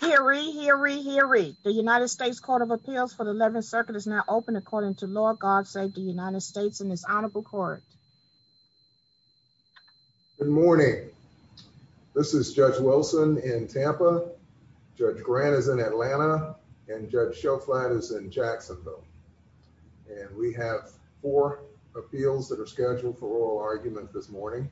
Hear ye, hear ye, hear ye. The United States Court of Appeals for the 11th Circuit is now open according to law. God save the United States and His Honorable Court. Good morning. This is Judge Wilson in Tampa, Judge Grant is in Atlanta, and Judge Shelflight is in Jacksonville. And we have four appeals that are scheduled for oral argument this morning.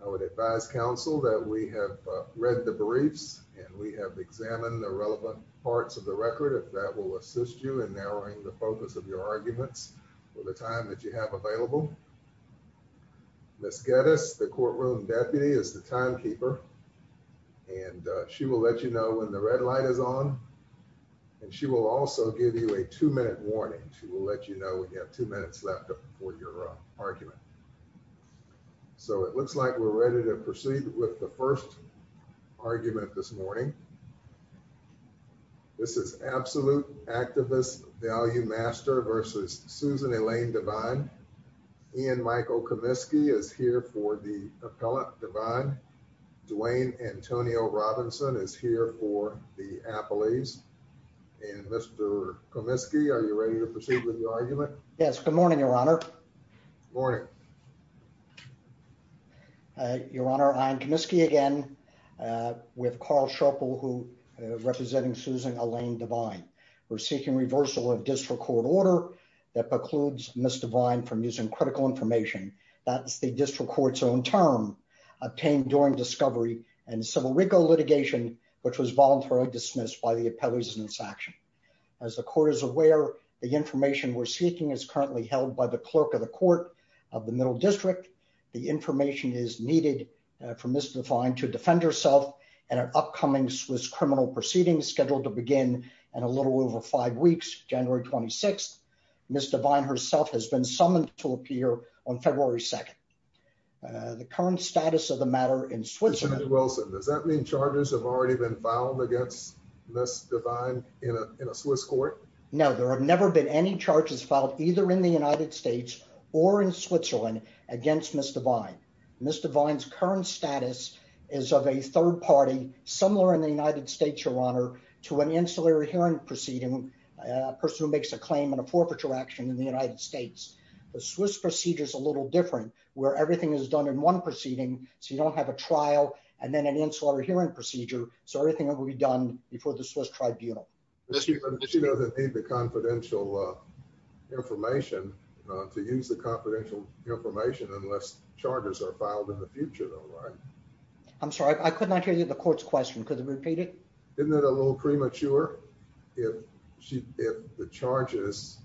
I would advise counsel that we have read the briefs, and we have examined the relevant parts of the record if that will assist you in narrowing the focus of your arguments for the time that you have available. Ms. Geddes, the courtroom deputy, is the timekeeper, and she will let you know when the red light is on. And she will also give you a two-minute warning. She will let you know when you have two minutes left for your argument. So it looks like we're ready to proceed with the first argument this morning. This is Absolute Activist Value Master v. Susan Elaine Devine. Ian Michael Comiskey is here for the appellate, Devine. Duane Antonio Robinson is here for the appellees. And Mr. Comiskey, are you ready to proceed with your argument? Yes, good morning, Your Honor. Morning. Your Honor, Ian Comiskey again with Carl Sharple, representing Susan Elaine Devine. We're seeking reversal of district court order that precludes Ms. Devine from using critical information. That's the district court's own term, obtained during discovery and civil rigor litigation, which was voluntarily dismissed by the appellees in this action. As the court is aware, the information we're seeking is currently held by the clerk of the court of the Middle District. The information is needed for Ms. Devine to defend herself in an upcoming Swiss criminal proceeding scheduled to begin in a little over five weeks, January 26th. Ms. Devine herself has been summoned to appear on February 2nd. The current status of the matter in Switzerland... Mr. Wilson, does that mean charges have already been filed against Ms. Devine in a Swiss court? No, there have never been any charges filed, either in the United States or in Switzerland, against Ms. Devine. Ms. Devine's current status is of a third party, similar in the United States, Your Honor, to an ancillary hearing proceeding, a person who makes a claim in a forfeiture action in the United States. The Swiss procedure is a little different, where everything is done in one proceeding, so you don't have a trial, and then an ancillary hearing procedure, so everything will be done before the Swiss tribunal. She doesn't need the confidential information to use the confidential information unless charges are filed in the future, though, right? I'm sorry, I could not hear the court's question. Could you repeat it? Isn't it a little premature? If the charges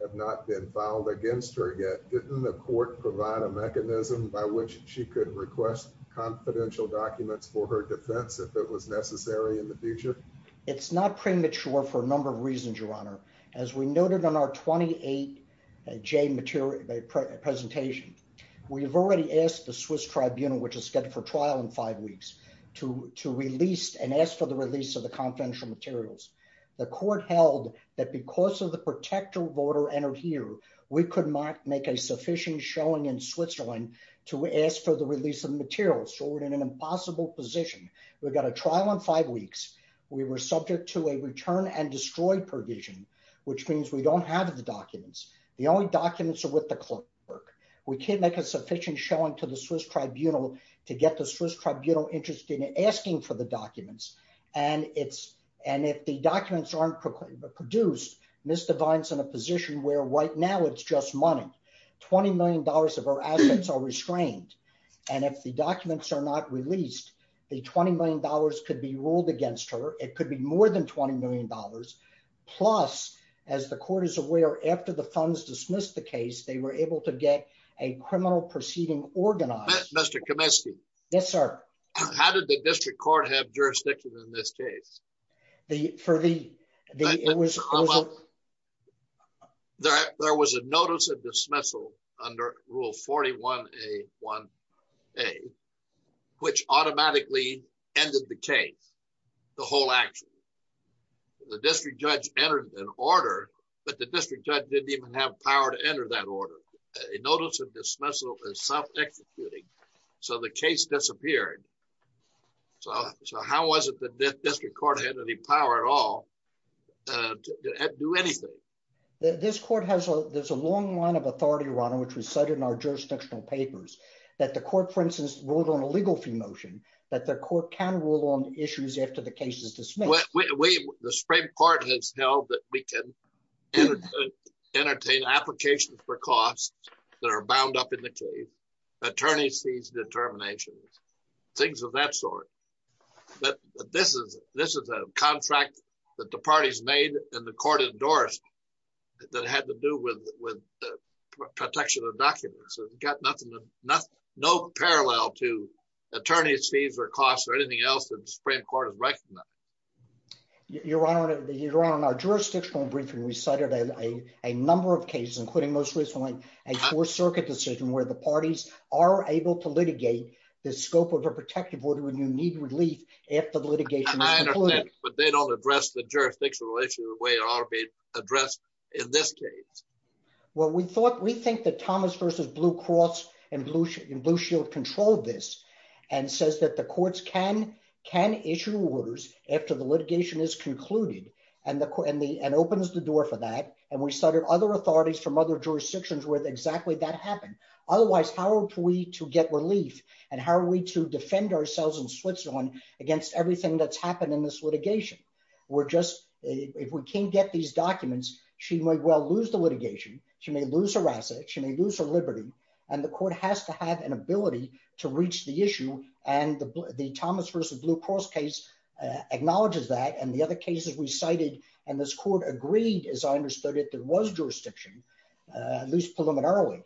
have not been filed against her yet, didn't the court provide a mechanism by which she could request confidential documents for her defense if it was necessary in the future? It's not premature for a number of reasons, Your Honor. As we noted in our 28J presentation, we've already asked the Swiss tribunal, which is scheduled for trial in five weeks, to release and ask for the release of the confidential materials. The court held that because of the protector voter entered here, we could not make a sufficient showing in Switzerland to ask for the release of materials, so we're in an impossible position. We've got a trial in five weeks. We were subject to a return and destroy provision, which means we don't have the documents. The only documents are with the clerk. We can't make a sufficient showing to the Swiss tribunal to get the Swiss tribunal interested in asking for the documents, and if the documents aren't produced, Ms. Devine's in position where right now it's just money. $20 million of her assets are restrained, and if the documents are not released, the $20 million could be ruled against her. It could be more than $20 million. Plus, as the court is aware, after the funds dismissed the case, they were able to get a criminal proceeding organized. Mr. Kaminsky. Yes, sir. How did the district court have jurisdiction in this case? There was a notice of dismissal under rule 41A1A, which automatically ended the case, the whole action. The district judge entered an order, but the district judge didn't even have power to enter that order. A notice of dismissal is so how was it that the district court had any power at all to do anything? This court has a long line of authority, Ron, which was cited in our jurisdictional papers, that the court, for instance, ruled on a legal fee motion, that the court can rule on issues after the case is dismissed. The Supreme Court has held that we can entertain applications for costs that are bound up in the case, attorney's fees, determinations, things of that sort. But this is a contract that the parties made and the court endorsed that had to do with protection of documents. It's got nothing, no parallel to attorney's fees or costs or anything else that the Supreme Court has recognized. Your Honor, in our jurisdictional briefing, we cited a number of cases, including most recently, a Fourth Circuit decision where the parties are able to litigate the scope of a protective order when you need relief if the litigation is concluded. I understand, but they don't address the jurisdictional issue the way it ought to be addressed in this case. Well, we think that Thomas v. Blue Cross and Blue Shield controlled this and says that the courts can issue orders after the litigation is concluded and opens the door for that. And we cited other authorities from other jurisdictions where exactly that happened. Otherwise, how are we to get relief and how are we to defend ourselves in Switzerland against everything that's happened in this litigation? We're just, if we can't get these documents, she might well lose the litigation. She may lose her assets. She may lose her liberty. And the court has to have an ability to reach the issue. And the Thomas v. Blue Cross case acknowledges that and the other cases we cited and this court agreed, as I understood it, there was jurisdiction, at least preliminarily,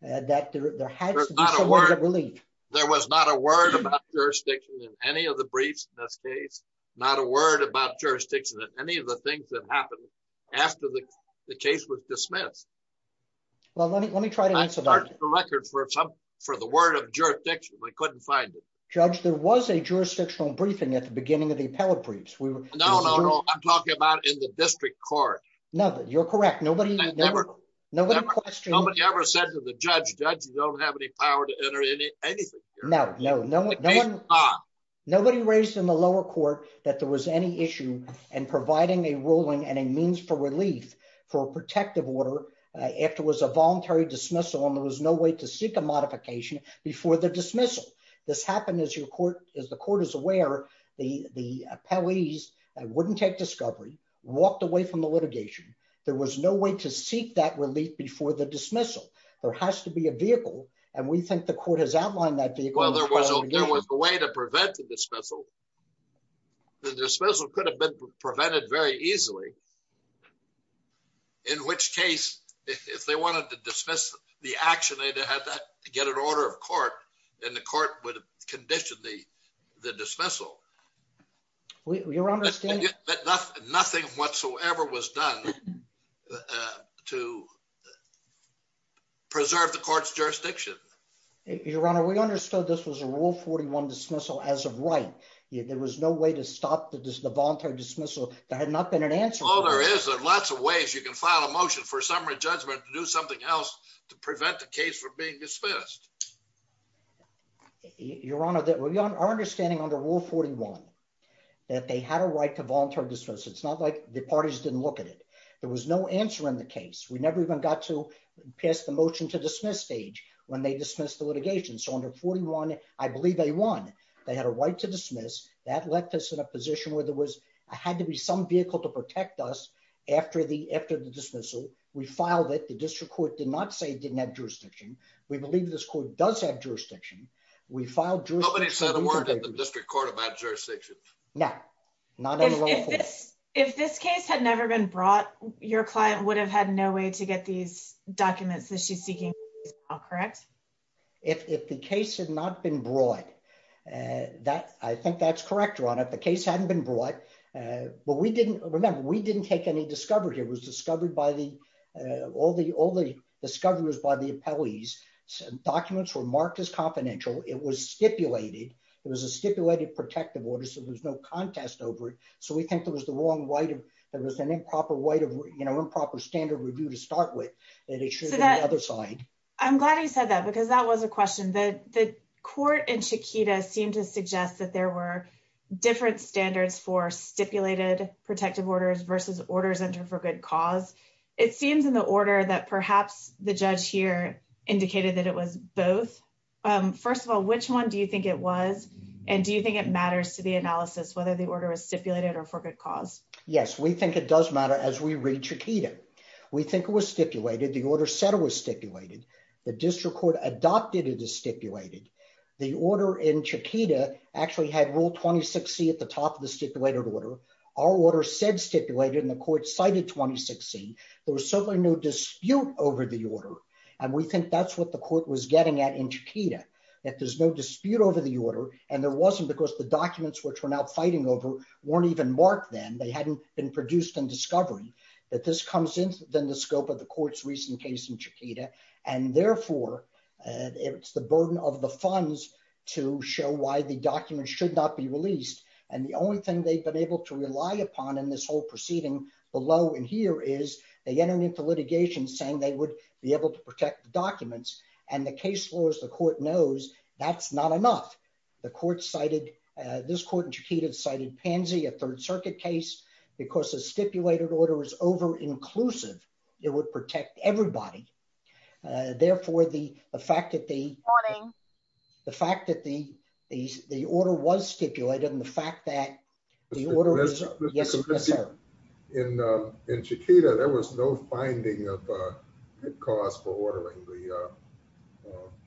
that there had to be some way to get relief. There was not a word about jurisdiction in any of the briefs in this case, not a word about jurisdiction in any of the things that happened after the case was dismissed. Well, let me try to answer that. I have a record for the word of jurisdiction. I couldn't find it. Judge, there was a jurisdictional briefing at the beginning of the court. No, you're correct. Nobody ever said to the judge, Judge, you don't have any power to enter anything. No, nobody raised in the lower court that there was any issue in providing a ruling and a means for relief for a protective order if there was a voluntary dismissal and there was no way to seek a modification before the dismissal. This happened as the court is aware, the appellees wouldn't take discovery, walked away from the litigation. There was no way to seek that relief before the dismissal. There has to be a vehicle and we think the court has outlined that vehicle. Well, there was a way to prevent the dismissal. The dismissal could have been prevented very easily, in which case if they wanted to dismiss the action, they'd have to get order of court and the court would condition the dismissal. We understand that nothing whatsoever was done to preserve the court's jurisdiction. Your Honor, we understood this was a rule 41 dismissal as of right. There was no way to stop the voluntary dismissal. There had not been an answer. Oh, there is. There are lots of ways you can file a motion for a summary judgment to do this. Your Honor, our understanding under rule 41 that they had a right to voluntary dismiss. It's not like the parties didn't look at it. There was no answer in the case. We never even got to pass the motion to dismiss stage when they dismissed the litigation. So under 41, I believe they won. They had a right to dismiss. That left us in a position where there had to be some vehicle to protect us after the dismissal. We filed it. The district court did not say it didn't have jurisdiction. We believe this court does have jurisdiction. Nobody said a word in the district court about jurisdiction. No. If this case had never been brought, your client would have had no way to get these documents that she's seeking, is that correct? If the case had not been brought, I think that's correct, Your Honor. If the case hadn't been brought, but we didn't, remember, we didn't take any discovery. It was discovered by the, all the discoveries by the appellees. Documents were marked as confidential. It was stipulated. There was a stipulated protective order, so there was no contest over it. So we think there was the wrong way. There was an improper way of, you know, improper standard review to start with. I'm glad you said that because that was a question. The court in Chiquita seemed to suggest that there were different standards for stipulated protective orders versus orders entered for good cause. It seems in the order that perhaps the judge here indicated that it was both. First of all, which one do you think it was, and do you think it matters to the analysis whether the order was stipulated or for good cause? Yes, we think it does matter as we read Chiquita. We think it was stipulated. The order said it was stipulated. The district court adopted it as stipulated. The order in Chiquita actually had Rule 26C at the top of the stipulated order. Our order said stipulated, and the court cited 26C. There was certainly no dispute over the order, and we think that's what the court was getting at in Chiquita, that there's no dispute over the order, and there wasn't because the documents, which we're now fighting over, weren't even marked then. They hadn't been produced in discovery. That this comes in, then, the scope of the court's case in Chiquita, and therefore, it's the burden of the funds to show why the documents should not be released, and the only thing they've been able to rely upon in this whole proceeding below and here is they entered into litigation saying they would be able to protect the documents, and the case laws, the court knows that's not enough. The court cited, this court in Chiquita cited a third circuit case because the stipulated order is over-inclusive. It would protect everybody. Therefore, the fact that the order was stipulated, and the fact that the order... In Chiquita, there was no finding of cause for ordering the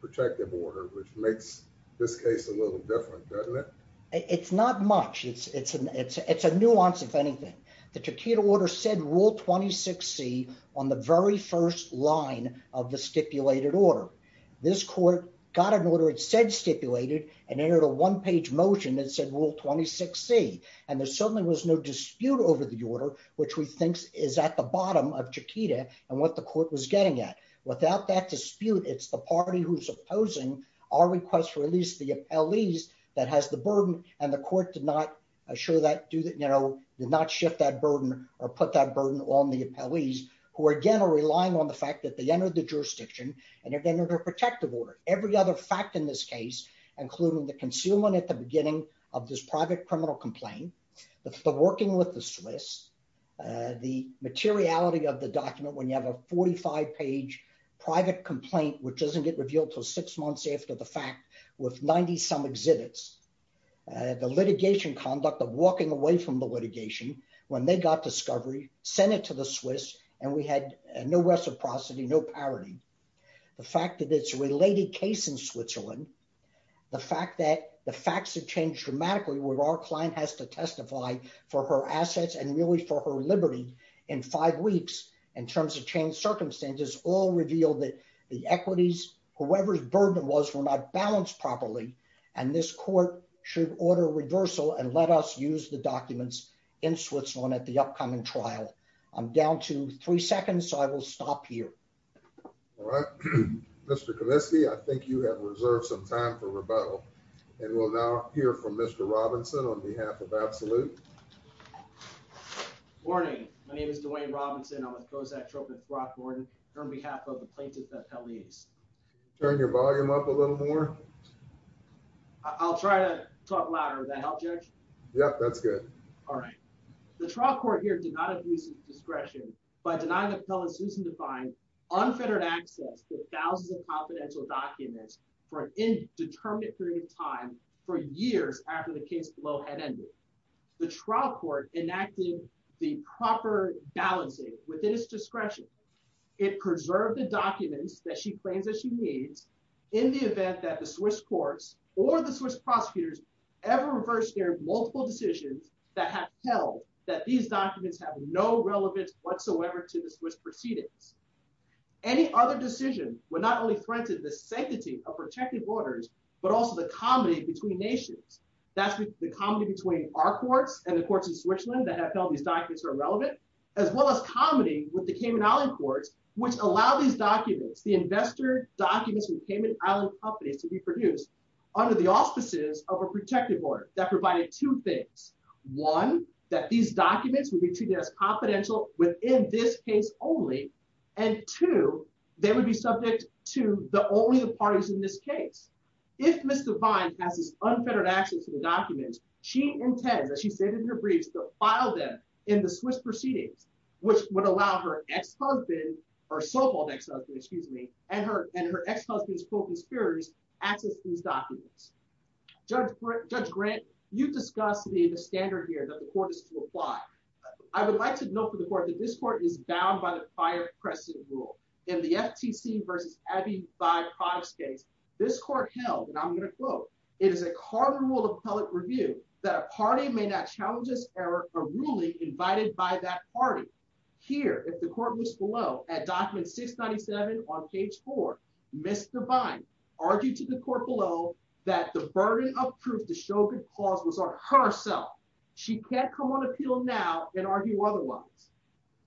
which makes this case a little different, doesn't it? It's not much. It's a nuance, if anything. The Chiquita order said Rule 26C on the very first line of the stipulated order. This court got an order it said stipulated, and entered a one-page motion that said Rule 26C, and there certainly was no dispute over the order, which we think is at the bottom of Chiquita, and what the court was getting at. Without that dispute, it's the party who's opposing our request to release the appellees that has the burden, and the court did not did not shift that burden or put that burden on the appellees, who again are relying on the fact that they entered the jurisdiction, and they're getting a protective order. Every other fact in this case, including the concealment at the beginning of this private criminal complaint, the working with the Swiss, the materiality of the document when you have a 45-page private complaint, which doesn't get revealed until six months after the fact, with 90-some exhibits, the litigation conduct of walking away from the litigation when they got discovery, sent it to the Swiss, and we had no reciprocity, no parity. The fact that it's a related case in for her assets and really for her liberty in five weeks, in terms of changed circumstances, all revealed that the equities, whoever's burden was, were not balanced properly, and this court should order reversal and let us use the documents in Switzerland at the upcoming trial. I'm down to three seconds, so I will stop here. All right, Mr. Kaminsky, I think you have reserved some time for rebuttal, and we'll now hear from Mr. Robinson on behalf of Absolute. Morning. My name is Dwayne Robinson. I'm with Kozak Troop and Throckmorton. On behalf of the plaintiff at Pell East. Turn your volume up a little more. I'll try to talk louder. That help, Judge? Yep, that's good. All right. The trial court here did not abuse discretion by denying the Pell and Susan Define unfettered access to thousands of documents for an indeterminate period of time for years after the case below had ended. The trial court enacted the proper balancing within its discretion. It preserved the documents that she claims that she needs in the event that the Swiss courts or the Swiss prosecutors ever reversed their multiple decisions that have held that these documents have no relevance whatsoever to the Swiss proceedings. Any other decision would not only threaten the sanctity of protective orders, but also the comedy between nations. That's the comedy between our courts and the courts in Switzerland that have held these documents are irrelevant, as well as comedy with the Cayman Island courts, which allow these documents, the investor documents from Cayman Island companies to be produced under the auspices of a protective order that provided two things. One, that these documents would be treated as confidential within this case only, and two, they would be subject to the only parties in this case. If Ms. Define has this unfettered access to the documents, she intends, as she stated in her briefs, to file them in the Swiss proceedings, which would allow her ex-husband or so-called ex-husband, excuse me, and her ex-husband's standard here that the court is to apply. I would like to note for the court that this court is bound by the prior precedent rule. In the FTC versus Abbey 5 Protest case, this court held, and I'm going to quote, it is a cardinal rule of public review that a party may not challenge a ruling invited by that party. Here, if the court was below at document 697 on page four, Ms. Define argued to the court below that the burden of proof the show could cause was on herself. She can't come on appeal now and argue otherwise.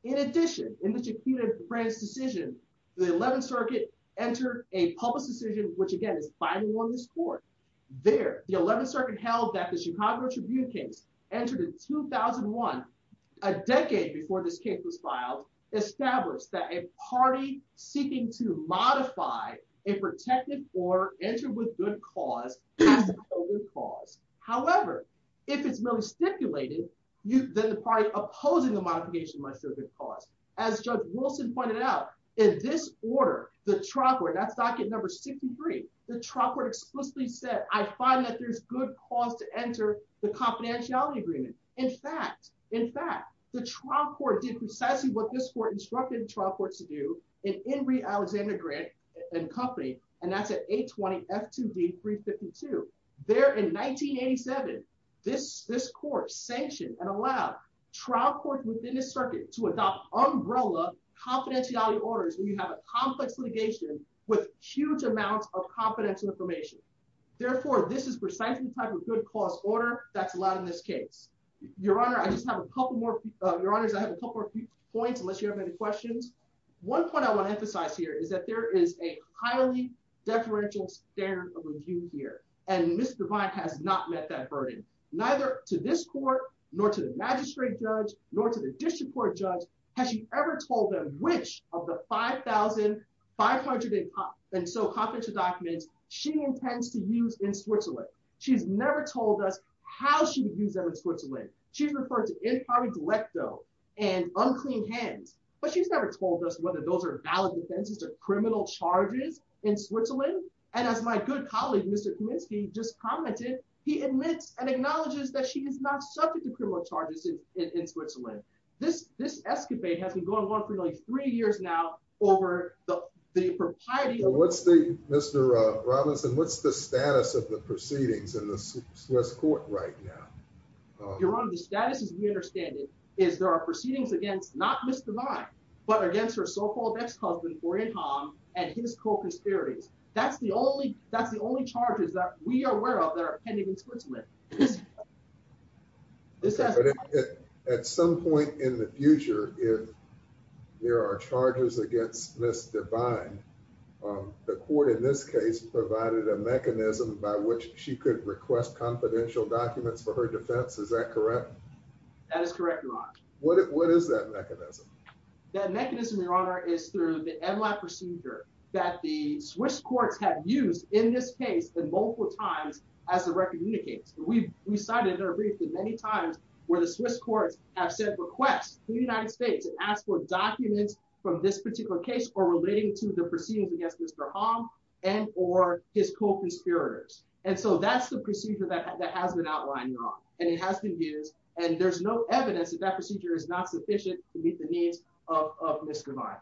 In addition, in the Chiquita branch decision, the 11th Circuit entered a public decision, which again is final on this court. There, the 11th Circuit held that the Chicago Tribune case entered in 2001, a decade before this case was filed, established that a party seeking to modify a protected order entered with good cause has to be held with cause. However, if it's merely stipulated, then the party opposing the modification must show good cause. As Judge Wilson pointed out, in this order, the trial court, that's document number 63, the trial court explicitly said, I find that there's good cause to enter the confidentiality agreement. In fact, in fact, the trial court did precisely what this court instructed trial courts to do in Henry Alexander Grant and Company, and that's at 820 F2D 352. There in 1987, this court sanctioned and allowed trial courts within the circuit to adopt umbrella confidentiality orders when you have a complex litigation with huge amounts of confidential information. Therefore, this is precisely the type of good cause order that's allowed in this case. Your Honor, I just have a couple more, Your Honors, I have a couple more points, unless you have any questions. One point I want to emphasize here is that there is a highly deferential standard of review here, and Ms. Devine has not met that burden, neither to this court, nor to the magistrate judge, nor to the district court judge. Has she ever told them which of the 5,500 and so confidential documents she intends to use in Switzerland? She's never told us how she would use them in Switzerland. She's referred to impari delecto and unclean hands, but she's never told us whether those are valid offenses or criminal charges in Switzerland. And as my good colleague, Mr. Kulinski just commented, he admits and acknowledges that she is not subject to criminal charges in Switzerland. This escapade has been going on for nearly three years now over the propriety. What's the, Mr. Robinson, what's the status of the proceedings in the Swiss court right now? Your Honor, the status as we understand it is there are proceedings against, not Ms. Devine, but against her so-called ex-husband, Orin Hom, and his co-conspirators. That's the only, that's the only charges that we are aware of that are pending in Switzerland. But at some point in the future, if there are charges against Ms. Devine, the court in this case provided a mechanism by which she could request confidential documents for her defense. Is that correct? That is correct, Your Honor. What is that mechanism? That mechanism, Your Honor, is through the MLAP procedure that the Swiss courts have used in this case at multiple times as the record indicates. We've cited in our brief that many times where the Swiss courts have sent requests to the United States and asked for documents from this particular case or relating to the proceedings against Mr. Hom and or his co-conspirators. And so that's the procedure that has been outlined, Your Honor, and it has been used. And there's no evidence that that procedure is not sufficient to meet the needs of Ms. Devine.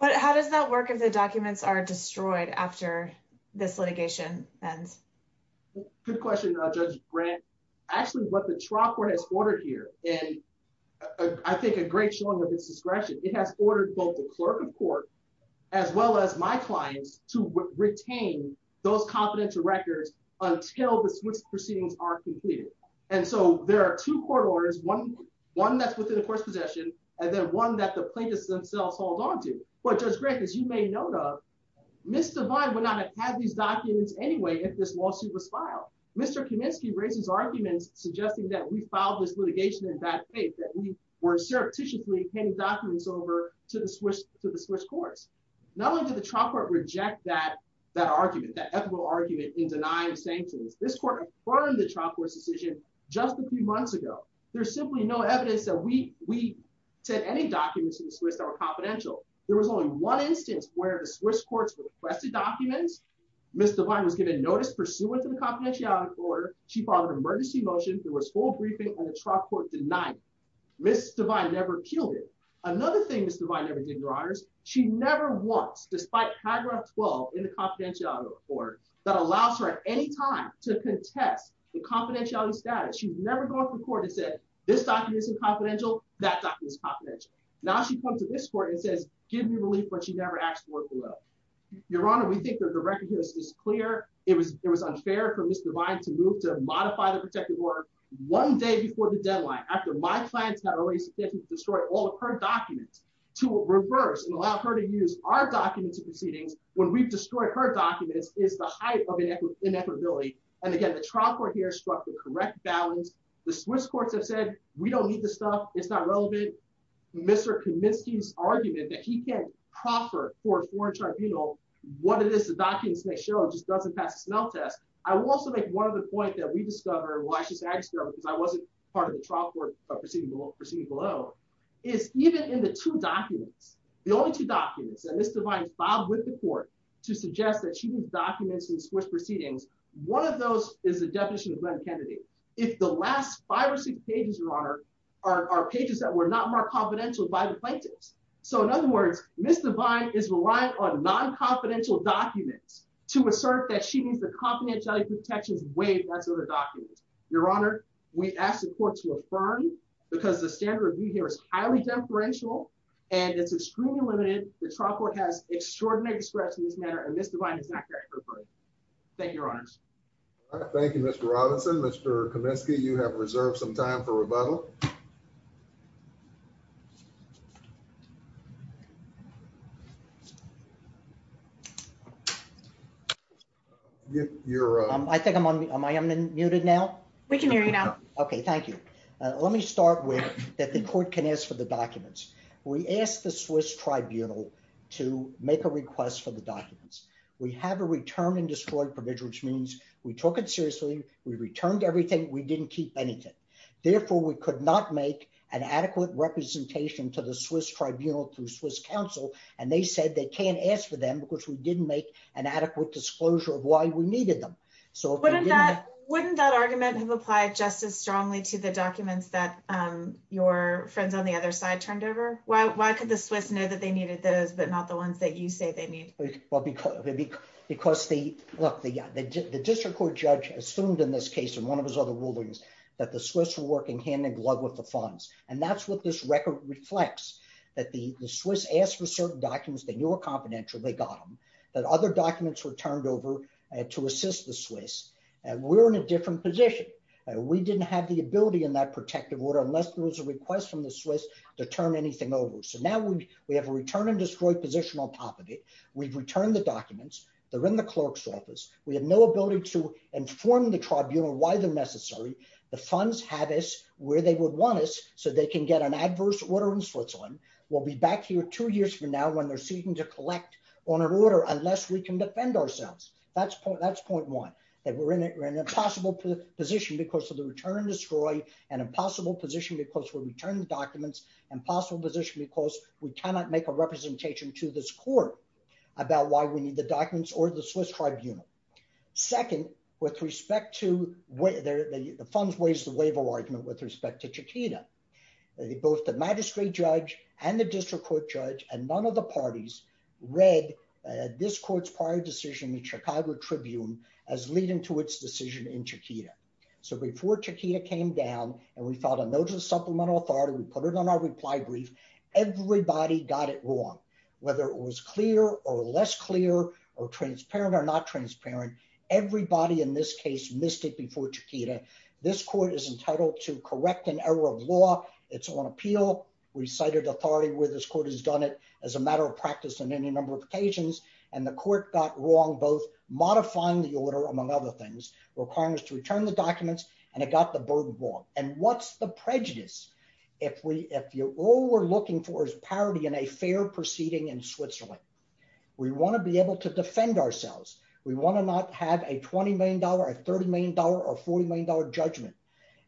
But how does that work if the documents are destroyed after this litigation ends? Good question, Judge Brandt. Actually, what the trial court has ordered here, and I think a great showing of its discretion, it has ordered both the clerk of court, as well as my clients, to retain those confidential records until the Swiss proceedings are completed. And so there are two court orders, one that's within the court's possession, and then one that the plaintiffs themselves hold on to. But Judge Grant, as you may know, Ms. Devine would not have had these documents anyway if this lawsuit was filed. Mr. Kaminsky raises arguments suggesting that we filed this litigation in bad faith, that we were surreptitiously handing documents over to the Swiss courts. Not only did the trial court reject that argument, that ethical argument in denying the sanctions, this court confirmed the trial court's decision just a few months ago. There's simply no evidence that we sent any documents to the Swiss that were confidential. There was only one instance where the Swiss courts requested documents. Ms. Devine was given notice pursuant to the confidentiality order. She filed an emergency motion. There was full briefing, and the trial court denied it. Ms. Devine never appealed it. Another thing Ms. Devine never did, Your Honors, she never once, despite paragraph 12 in the confidentiality order, that allows her at any time to contest the confidentiality status. She's never gone to court and said, this document isn't confidential, that document's confidential. Now she comes to this court and says, give me relief, but she never asked for it below. Your Honor, we think that the record here is clear. It was unfair for Ms. Devine to move to modify the protective order one day before the deadline, after my client had already submitted to destroy all of her documents to reverse and allow her to use our documents in proceedings when we've destroyed her documents is the height of inequitability. And again, the trial court here struck the correct balance. The Swiss courts have said, we don't need this stuff. It's not relevant. Mr. Kaminsky's argument that he can't proffer for a foreign tribunal what it is the documents may show just doesn't pass the smell test. I will also make one other point that we discovered why she's aggressive because I wasn't part of the trial court proceeding below, is even in the two documents, the only two documents that Ms. Devine filed with the court to suggest that she needs documents in Swiss proceedings. One of those is the definition of Glenn Kennedy. If the last five or six pages, Your Honor, are pages that were not marked confidential by the plaintiffs. So in other words, Ms. Devine is reliant on non-confidential documents to assert that she needs the confidentiality protections waived by the documents. Your Honor, we asked the court to affirm because the standard review here is highly deferential and it's extremely limited. The trial court has extraordinary discretion in this matter and Ms. Devine is not there. Thank you, Your Honors. Thank you, Mr. Robinson. Mr. Kaminsky, you have reserved some time for rebuttal. I think I'm unmuted now. We can hear you now. Okay, thank you. Let me start with that the court can ask for the documents. We asked the Swiss Tribunal to make a request for the documents. We have a return and destroyed provision, which means we took it seriously. We returned everything. We didn't keep anything. Therefore, we could not make an adequate representation to the Swiss Tribunal through Swiss counsel and they said they can't ask for them because we didn't make an adequate disclosure of why we needed them. So wouldn't that argument have applied just as strongly to the documents that your friends on the other side turned over? Why could the Swiss know that they needed those but not the ones that you say they need? Well, because the district court judge assumed in this case and one of his other rulings that the Swiss were working hand in glove with the funds and that's what this record reflects. That the Swiss asked for certain documents. They knew were confidential. They got them. That other documents were turned over to assist the Swiss and we're in a different position. We didn't have the ability in that protective order unless there was a request from the Swiss to turn anything over. So now we have a return and destroyed position on top of it. We've returned the documents. They're in the clerk's office. We have no ability to inform the tribunal why they're necessary. The funds have us where they would want us so they can get an adverse order in Switzerland. We'll be back here two years from now when they're seeking to collect on an order unless we can defend ourselves. That's point one. That we're in an impossible position because of the return and destroy. An impossible position because we returned the documents. Impossible position because we cannot make a representation to this court about why we need the documents or the Swiss tribunal. Second with respect to whether the funds weighs the waiver argument with respect to Chiquita. Both the magistrate judge and the district court judge and none of the parties read this court's prior decision in the Chicago Tribune as leading to its decision in Chiquita. So before Chiquita came down and we filed a notice of supplemental authority. We put it on our reply brief. Everybody got it wrong. Whether it was clear or less clear or transparent or not transparent. Everybody in this case missed it before Chiquita. This court is entitled to correct an error of law. It's on appeal. We cited authority where this court has done it as a matter of practice on any number of occasions and the court got wrong both modifying the order among other things requiring us to return the documents and it got the burden of law. And what's the prejudice if we if you all we're looking for is parity in a proceeding in Switzerland. We want to be able to defend ourselves. We want to not have a 20 million dollar a 30 million dollar or 40 million dollar judgment.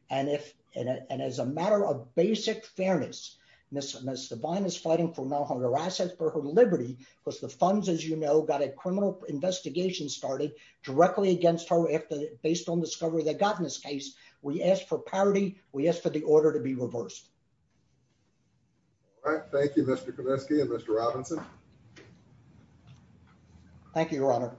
And if and as a matter of basic fairness Ms. Devine is fighting for her assets for her liberty because the funds as you know got a criminal investigation started directly against her after based on discovery that got in this case. We ask for parity. We ask for the order to be reversed. All right. Thank you Mr. Kaminsky and Mr. Robinson. Thank you your honor.